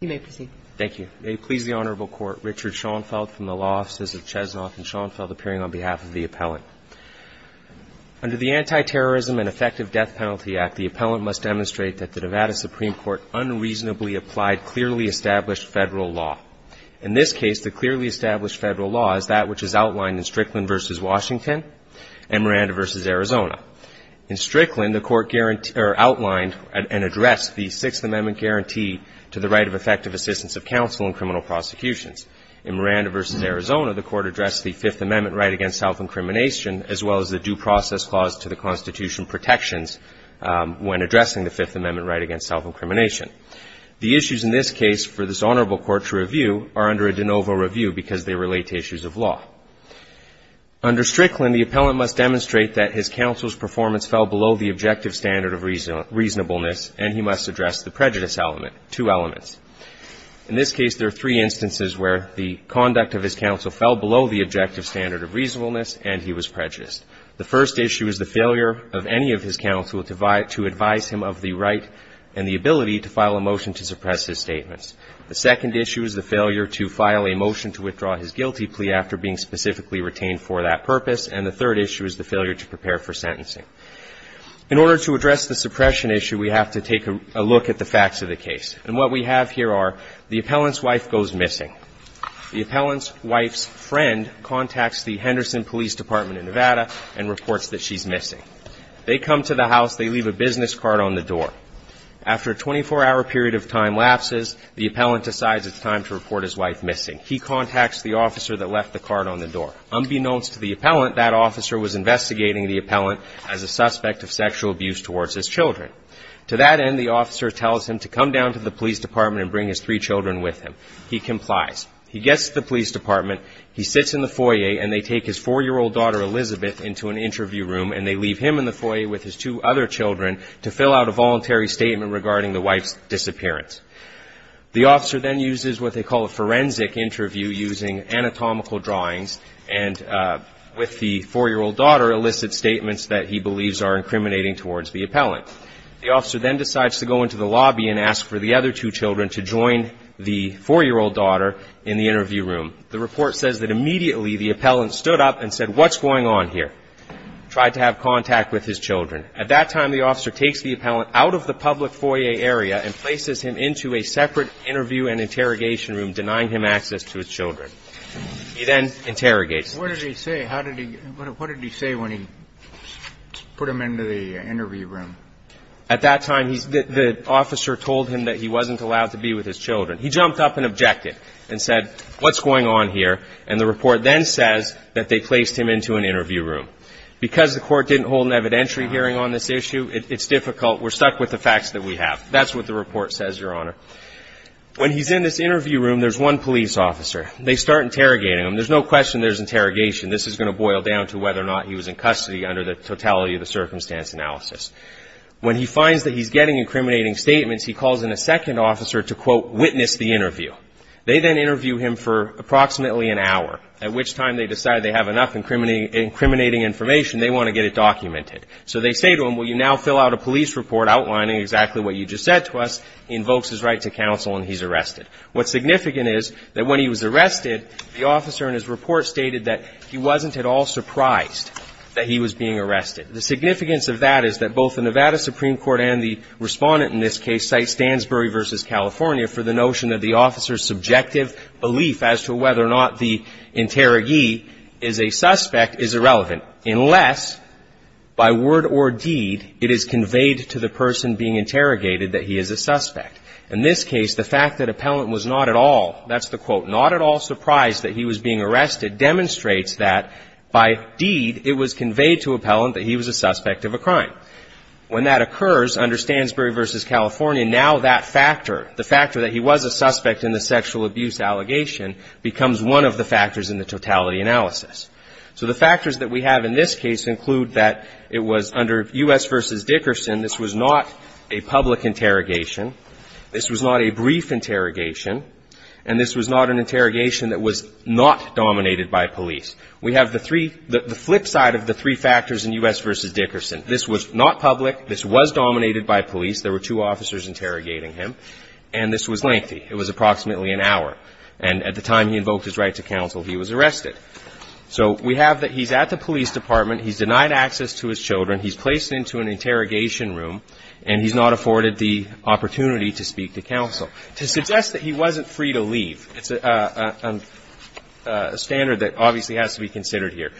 You may proceed. Thank you. May it please the Honorable Court, Richard Schoenfeld from the Law Offices of Chesnoff and Schoenfeld appearing on behalf of the appellant. Under the Anti-Terrorism and Effective Death Penalty Act, the appellant must demonstrate that the Nevada Supreme Court unreasonably applied clearly established Federal law. In this case, the clearly established Federal law is that which is outlined in Strickland v. Washington and Miranda v. Arizona. In Strickland, the Court outlined and addressed the Sixth Amendment guarantee to the right of effective assistance of counsel in criminal prosecutions. In Miranda v. Arizona, the Court addressed the Fifth Amendment right against self-incrimination as well as the due process clause to the Constitution protections when addressing the Fifth Amendment right against self-incrimination. The issues in this case for this Honorable Court to review are under a de novo review because they relate to issues of law. Under Strickland, the appellant must demonstrate that his counsel's performance fell below the objective standard of reasonableness, and he must address the prejudice element, two elements. In this case, there are three instances where the conduct of his counsel fell below the objective standard of reasonableness and he was prejudiced. The first issue is the failure of any of his counsel to advise him of the right and the ability to file a motion to suppress his statements. The second issue is the failure to file a motion to withdraw his guilty plea after being specifically retained for that purpose. And the third issue is the failure to prepare for sentencing. In order to address the suppression issue, we have to take a look at the facts of the case. And what we have here are the appellant's wife goes missing. The appellant's wife's friend contacts the Henderson Police Department in Nevada and reports that she's missing. They come to the house. They leave a business card on the door. After a 24-hour period of time lapses, the appellant decides it's time to report his wife missing. He contacts the officer that left the card on the door. Unbeknownst to the appellant, that officer was investigating the appellant as a suspect of sexual abuse towards his children. To that end, the officer tells him to come down to the police department and bring his three children with him. He complies. He gets to the police department. He sits in the foyer, and they take his 4-year-old daughter, Elizabeth, into an interview room, and they leave him in the foyer with his two other children to fill out a voluntary statement regarding the wife's disappearance. The officer then uses what they call a forensic interview using anatomical drawings and with the 4-year-old daughter elicit statements that he believes are incriminating towards the appellant. The officer then decides to go into the lobby and ask for the other two children to join the 4-year-old daughter in the interview room. The report says that immediately the appellant stood up and said, what's going on here? Tried to have contact with his children. At that time, the officer takes the appellant out of the public foyer area and places him into a separate interview and interrogation room, denying him access to his children. He then interrogates him. What did he say? How did he ñ what did he say when he put him into the interview room? At that time, the officer told him that he wasn't allowed to be with his children. He jumped up and objected and said, what's going on here? And the report then says that they placed him into an interview room. Because the court didn't hold an evidentiary hearing on this issue, it's difficult. We're stuck with the facts that we have. That's what the report says, Your Honor. When he's in this interview room, there's one police officer. They start interrogating him. There's no question there's interrogation. This is going to boil down to whether or not he was in custody under the totality of the circumstance analysis. When he finds that he's getting incriminating statements, he calls in a second officer to, quote, witness the interview. They then interview him for approximately an hour, at which time they decide they have enough incriminating information. They want to get it documented. So they say to him, well, you now fill out a police report outlining exactly what you just said to us. He invokes his right to counsel, and he's arrested. What's significant is that when he was arrested, the officer in his report stated that he wasn't at all surprised that he was being arrested. The significance of that is that both the Nevada Supreme Court and the respondent in this case cite Stansbury v. California for the notion that the officer's subjective belief as to whether or not the interrogee is a suspect is irrelevant unless, by word or deed, it is conveyed to the person being interrogated that he is a suspect. In this case, the fact that appellant was not at all, that's the quote, not at all surprised that he was being arrested demonstrates that, by deed, it was conveyed to appellant that he was a suspect of a crime. Now, when that occurs under Stansbury v. California, now that factor, the factor that he was a suspect in the sexual abuse allegation, becomes one of the factors in the totality analysis. So the factors that we have in this case include that it was under U.S. v. Dickerson, this was not a public interrogation, this was not a brief interrogation, and this was not an interrogation that was not dominated by police. We have the three, the flip side of the three factors in U.S. v. Dickerson. This was not public. This was dominated by police. There were two officers interrogating him. And this was lengthy. It was approximately an hour. And at the time he invoked his right to counsel, he was arrested. So we have that he's at the police department, he's denied access to his children, he's placed into an interrogation room, and he's not afforded the opportunity to speak to counsel. To suggest that he wasn't free to leave, it's a standard that obviously has to be considered here.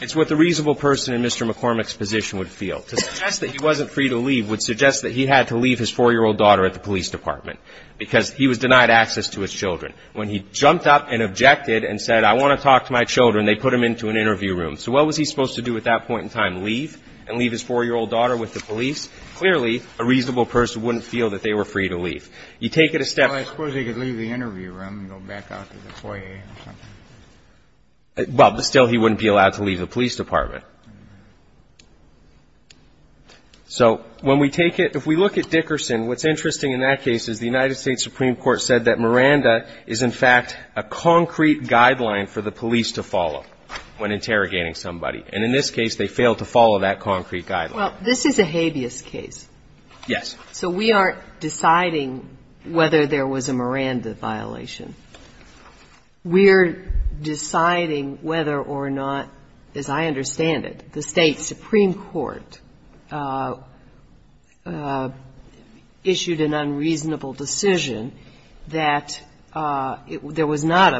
It's what the reasonable person in Mr. McCormick's position would feel. To suggest that he wasn't free to leave would suggest that he had to leave his 4-year-old daughter at the police department because he was denied access to his children. When he jumped up and objected and said, I want to talk to my children, they put him into an interview room. So what was he supposed to do at that point in time, leave and leave his 4-year-old daughter with the police? Clearly, a reasonable person wouldn't feel that they were free to leave. You take it a step further. Kennedy. I suppose he could leave the interview room and go back out to the foyer or something. Well, but still he wouldn't be allowed to leave the police department. So when we take it, if we look at Dickerson, what's interesting in that case is the United States Supreme Court said that Miranda is, in fact, a concrete guideline for the police to follow when interrogating somebody. And in this case, they failed to follow that concrete guideline. Well, this is a habeas case. Yes. So we aren't deciding whether there was a Miranda violation. We're deciding whether or not, as I understand it, the State Supreme Court issued an unreasonable decision that there was not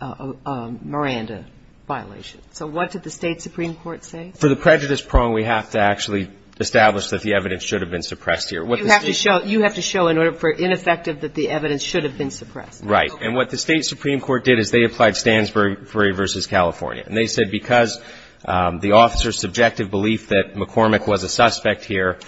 a Miranda violation. So what did the State Supreme Court say? For the prejudice prong, we have to actually establish that the evidence should have been suppressed here. You have to show in order for ineffective that the evidence should have been suppressed. Right. And what the State Supreme Court did is they applied Stansbury v. California. And they said because the officer's subjective belief that McCormick was a suspect here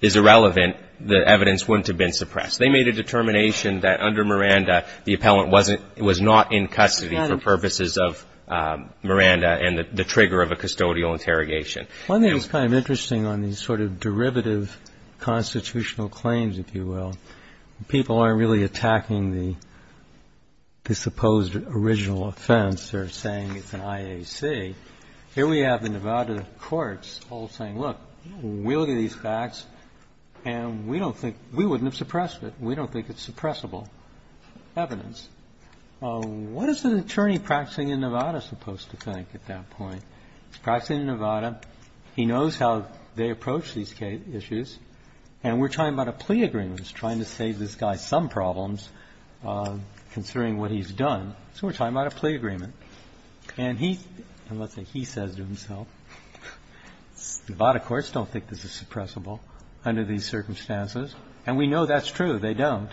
is irrelevant, the evidence wouldn't have been suppressed. They made a determination that under Miranda, the appellant was not in custody for purposes of Miranda and the trigger of a custodial interrogation. One thing that's kind of interesting on these sort of derivative constitutional claims, if you will, when people aren't really attacking the supposed original offense, they're saying it's an IAC. Here we have the Nevada courts all saying, look, we look at these facts and we don't think we wouldn't have suppressed it. We don't think it's suppressible evidence. What is an attorney practicing in Nevada supposed to think at that point? He's practicing in Nevada. He knows how they approach these issues. And we're talking about a plea agreement. He's trying to save this guy some problems considering what he's done. So we're talking about a plea agreement. And he – and let's say he says to himself, Nevada courts don't think this is suppressible under these circumstances. And we know that's true. They don't.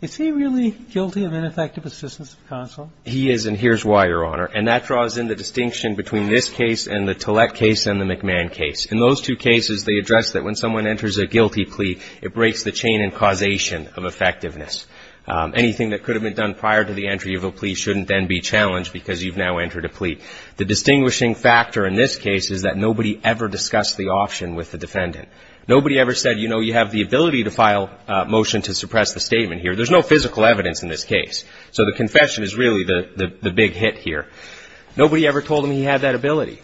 Is he really guilty of ineffective assistance of counsel? He is, and here's why, Your Honor. And that draws in the distinction between this case and the Tillett case and the McMahon case. In those two cases, they address that when someone enters a guilty plea, it breaks the chain and causation of effectiveness. Anything that could have been done prior to the entry of a plea shouldn't then be challenged because you've now entered a plea. The distinguishing factor in this case is that nobody ever discussed the option with the defendant. Nobody ever said, you know, you have the ability to file a motion to suppress the statement here. There's no physical evidence in this case. So the confession is really the big hit here. Nobody ever told him he had that ability.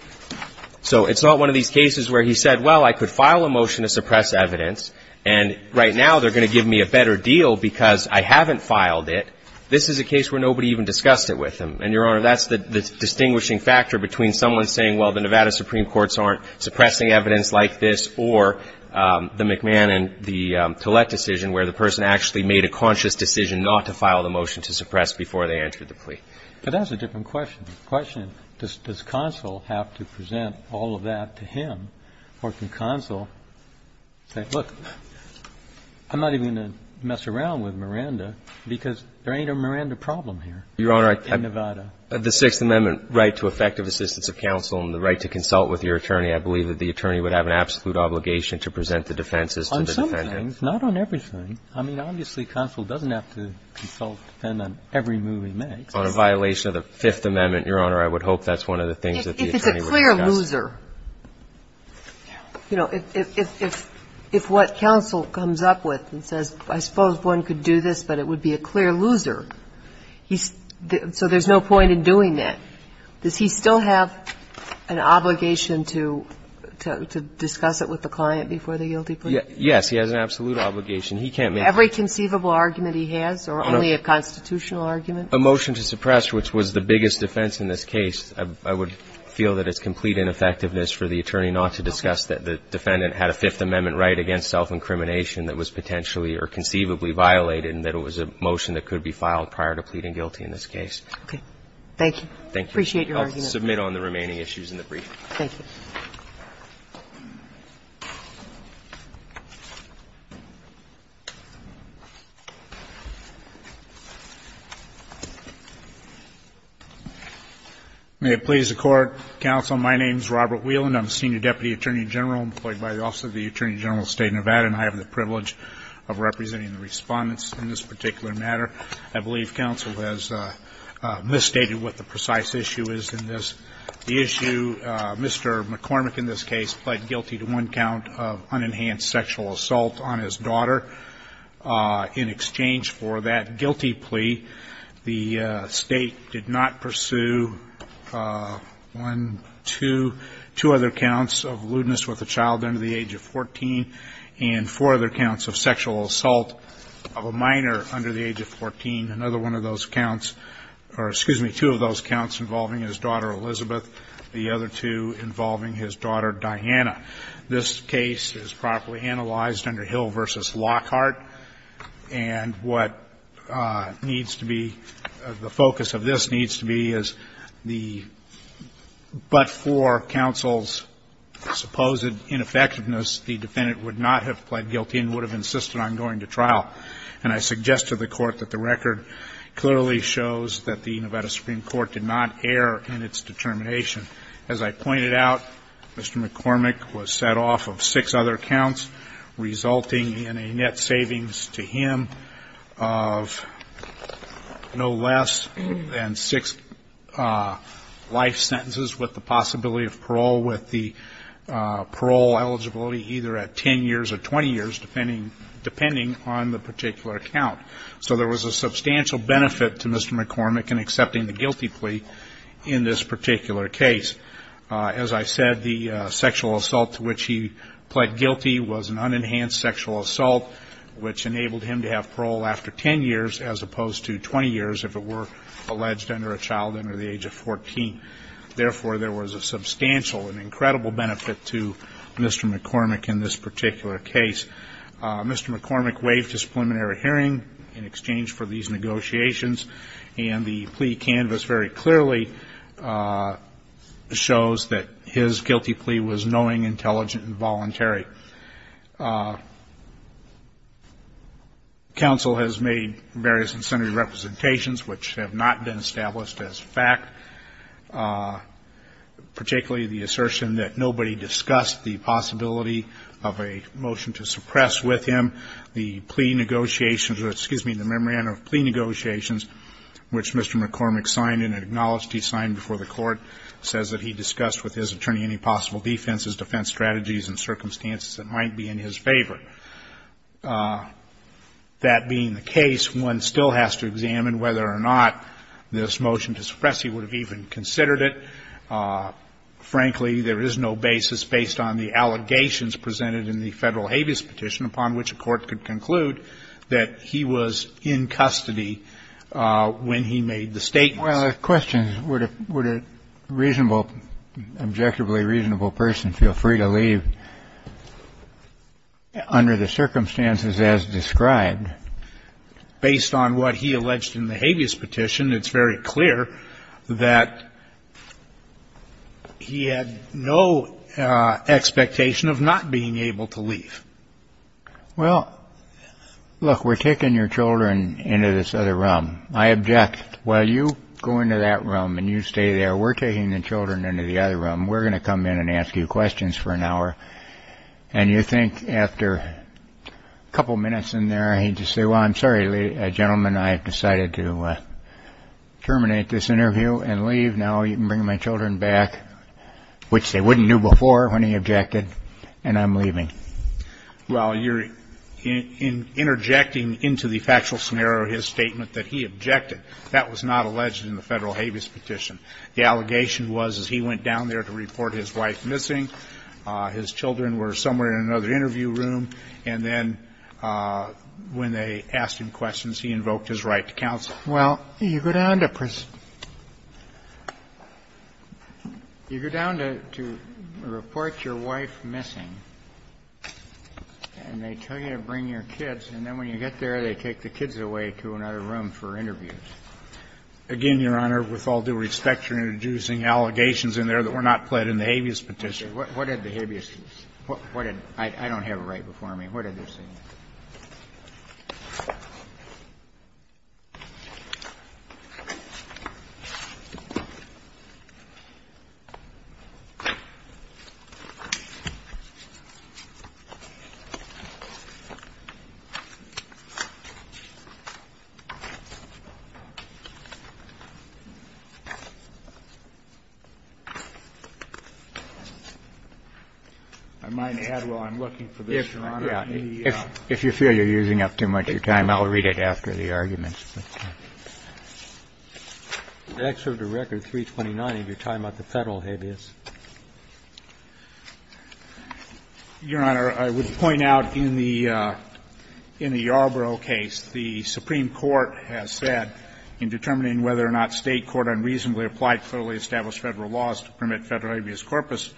So it's not one of these cases where he said, well, I could file a motion to suppress evidence, and right now they're going to give me a better deal because I haven't filed it. This is a case where nobody even discussed it with him. And, Your Honor, that's the distinguishing factor between someone saying, well, the Nevada Supreme Courts aren't suppressing evidence like this or the McMahon and the Tillett decision where the person actually made a conscious decision not to file the motion to suppress before they entered the plea. But that's a different question. The question is, does counsel have to present all of that to him, or can counsel say, look, I'm not even going to mess around with Miranda because there ain't a Miranda problem here in Nevada? Your Honor, the Sixth Amendment right to effective assistance of counsel and the right to consult with your attorney, I believe that the attorney would have an absolute obligation to present the defenses to the defendant. On some things, not on everything. I mean, obviously, counsel doesn't have to consult the defendant on every move he makes. On a violation of the Fifth Amendment, Your Honor, I would hope that's one of the things that the attorney would discuss. It's a clear loser. You know, if what counsel comes up with and says, I suppose one could do this, but it would be a clear loser, he's so there's no point in doing that. Does he still have an obligation to discuss it with the client before the guilty plea? Yes. He has an absolute obligation. He can't make every conceivable argument he has or only a constitutional argument. A motion to suppress, which was the biggest defense in this case, I would feel that it's complete ineffectiveness for the attorney not to discuss that the defendant had a Fifth Amendment right against self-incrimination that was potentially or conceivably violated and that it was a motion that could be filed prior to pleading guilty in this case. Okay. Thank you. Appreciate your argument. I'll submit on the remaining issues in the brief. Thank you. May it please the Court, counsel. My name is Robert Whelan. I'm a senior deputy attorney general employed by the Office of the Attorney General of the State of Nevada, and I have the privilege of representing the Respondents in this particular matter. I believe counsel has misstated what the precise issue is in this. The issue, Mr. McCormick in this case pled guilty to one count of unenhanced sexual assault on his daughter. In exchange for that guilty plea, the State did not pursue one, two, two other counts of lewdness with a child under the age of 14 and four other counts of sexual assault of a minor under the age of 14. Another one of those counts or, excuse me, two of those counts involving his daughter Elizabeth, the other two involving his daughter Diana. This case is properly analyzed under Hill v. Lockhart. And what needs to be the focus of this needs to be is the but for counsel's supposed ineffectiveness, the defendant would not have pled guilty and would have insisted on going to trial. And I suggest to the Court that the record clearly shows that the Nevada Supreme Court did not err in its determination. As I pointed out, Mr. McCormick was set off of six other counts, resulting in a net savings to him of no less than six life sentences with the possibility of parole with the parole eligibility either at 10 years or 20 years, depending on the particular count. So there was a substantial benefit to Mr. McCormick in accepting the guilty plea in this particular case. As I said, the sexual assault to which he pled guilty was an unenhanced sexual assault, which enabled him to have parole after 10 years as opposed to 20 years if it were alleged under a child under the age of 14. Therefore, there was a substantial and incredible benefit to Mr. McCormick in this particular case. Mr. McCormick waived his preliminary hearing in exchange for these negotiations and the plea canvas very clearly shows that his guilty plea was knowing, intelligent and voluntary. Counsel has made various incendiary representations which have not been established as fact, particularly the assertion that nobody discussed the possibility of a motion to suppress with him the plea negotiations or, excuse me, the memorandum of plea negotiations which Mr. McCormick signed and acknowledged he signed before the Court says that he discussed with his attorney any possible defenses, defense strategies and circumstances that might be in his favor. That being the case, one still has to examine whether or not this motion to suppress he would have even considered it. Frankly, there is no basis based on the allegations presented in the Federal habeas petition upon which a court could conclude that he was in custody when he made the statement. Kennedy. Well, the question is would a reasonable, objectively reasonable person feel free to leave under the circumstances as described? Based on what he alleged in the habeas petition, it's very clear that he had no expectation of not being able to leave. Well, look, we're taking your children into this other room. I object. Well, you go into that room and you stay there. We're taking the children into the other room. We're going to come in and ask you questions for an hour. And you think after a couple of minutes in there, he'd just say, well, I'm sorry, gentlemen, I've decided to terminate this interview and leave. Now you can bring my children back, which they wouldn't do before when he objected. And I'm leaving. Well, you're interjecting into the factual scenario his statement that he objected. That was not alleged in the Federal habeas petition. The allegation was that he went down there to report his wife missing. His children were somewhere in another interview room. And then when they asked him questions, he invoked his right to counsel. Well, you go down to prison. You go down to report your wife missing, and they tell you to bring your kids. And then when you get there, they take the kids away to another room for interviews. Again, Your Honor, with all due respect, you're introducing allegations in there that were not pled in the habeas petition. What did the habeas do? I don't have it right before me. What did they say? I might add while I'm looking for this, Your Honor. If you feel you're using up too much of your time, I'll read it after the arguments. Excerpt of Record 329 of your time at the Federal habeas. Your Honor, I would point out in the Yarbrough case, the Supreme Court has said in determining whether or not State court unreasonably applied federally established federal laws to permit federal habeas corpus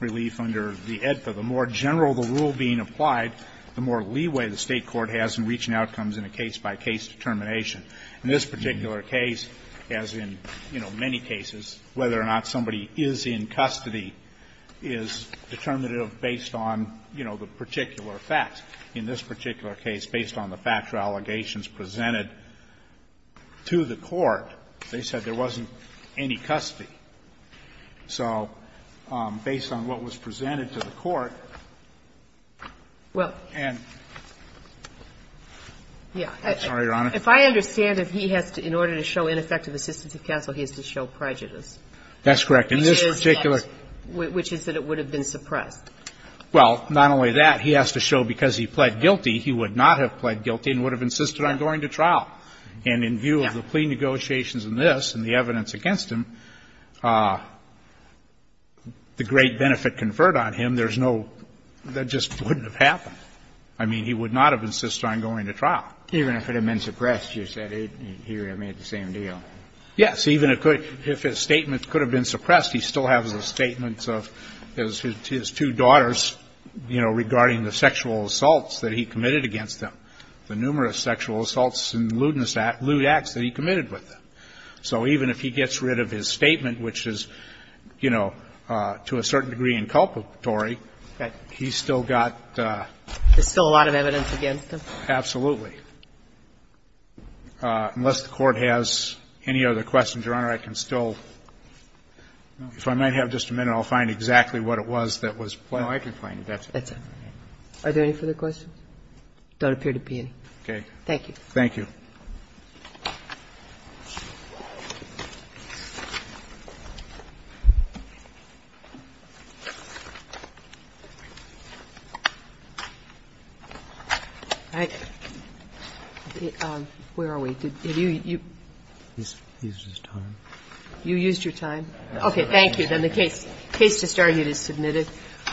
relief under the AEDFA, the more general the rule being applied, the more leeway the State court has in reaching outcomes in a case-by-case determination. In this particular case, as in, you know, many cases, whether or not somebody is in custody is determinative based on, you know, the particular facts. In this particular case, based on the factual allegations presented to the court, they said there wasn't any custody. So based on what was presented to the court, and sorry, Your Honor. If I understand it, he has to, in order to show ineffective assistance of counsel, he has to show prejudice. That's correct. In this particular. Which is that it would have been suppressed. Well, not only that, he has to show because he pled guilty, he would not have pled guilty and would have insisted on going to trial. And in view of the plea negotiations in this and the evidence against him, the great benefit conferred on him, there's no, that just wouldn't have happened. I mean, he would not have insisted on going to trial. Even if it had been suppressed, you said, here I made the same deal. Yes. Even if his statement could have been suppressed, he still has the statements of his two daughters, you know, regarding the sexual assaults that he committed against them, the numerous sexual assaults and lewdness acts, lewd acts that he committed with them. So even if he gets rid of his statement, which is, you know, to a certain degree inculpatory, he's still got. There's still a lot of evidence against him. Absolutely. Unless the Court has any other questions, Your Honor, I can still, if I might have just a minute, I'll find exactly what it was that was. No, I can find it. That's it. That's it. Are there any further questions? There don't appear to be any. Okay. Thank you. Thank you. All right. Where are we? Did you? He used his time. You used your time. Okay. Thank you. Then the case to start is submitted.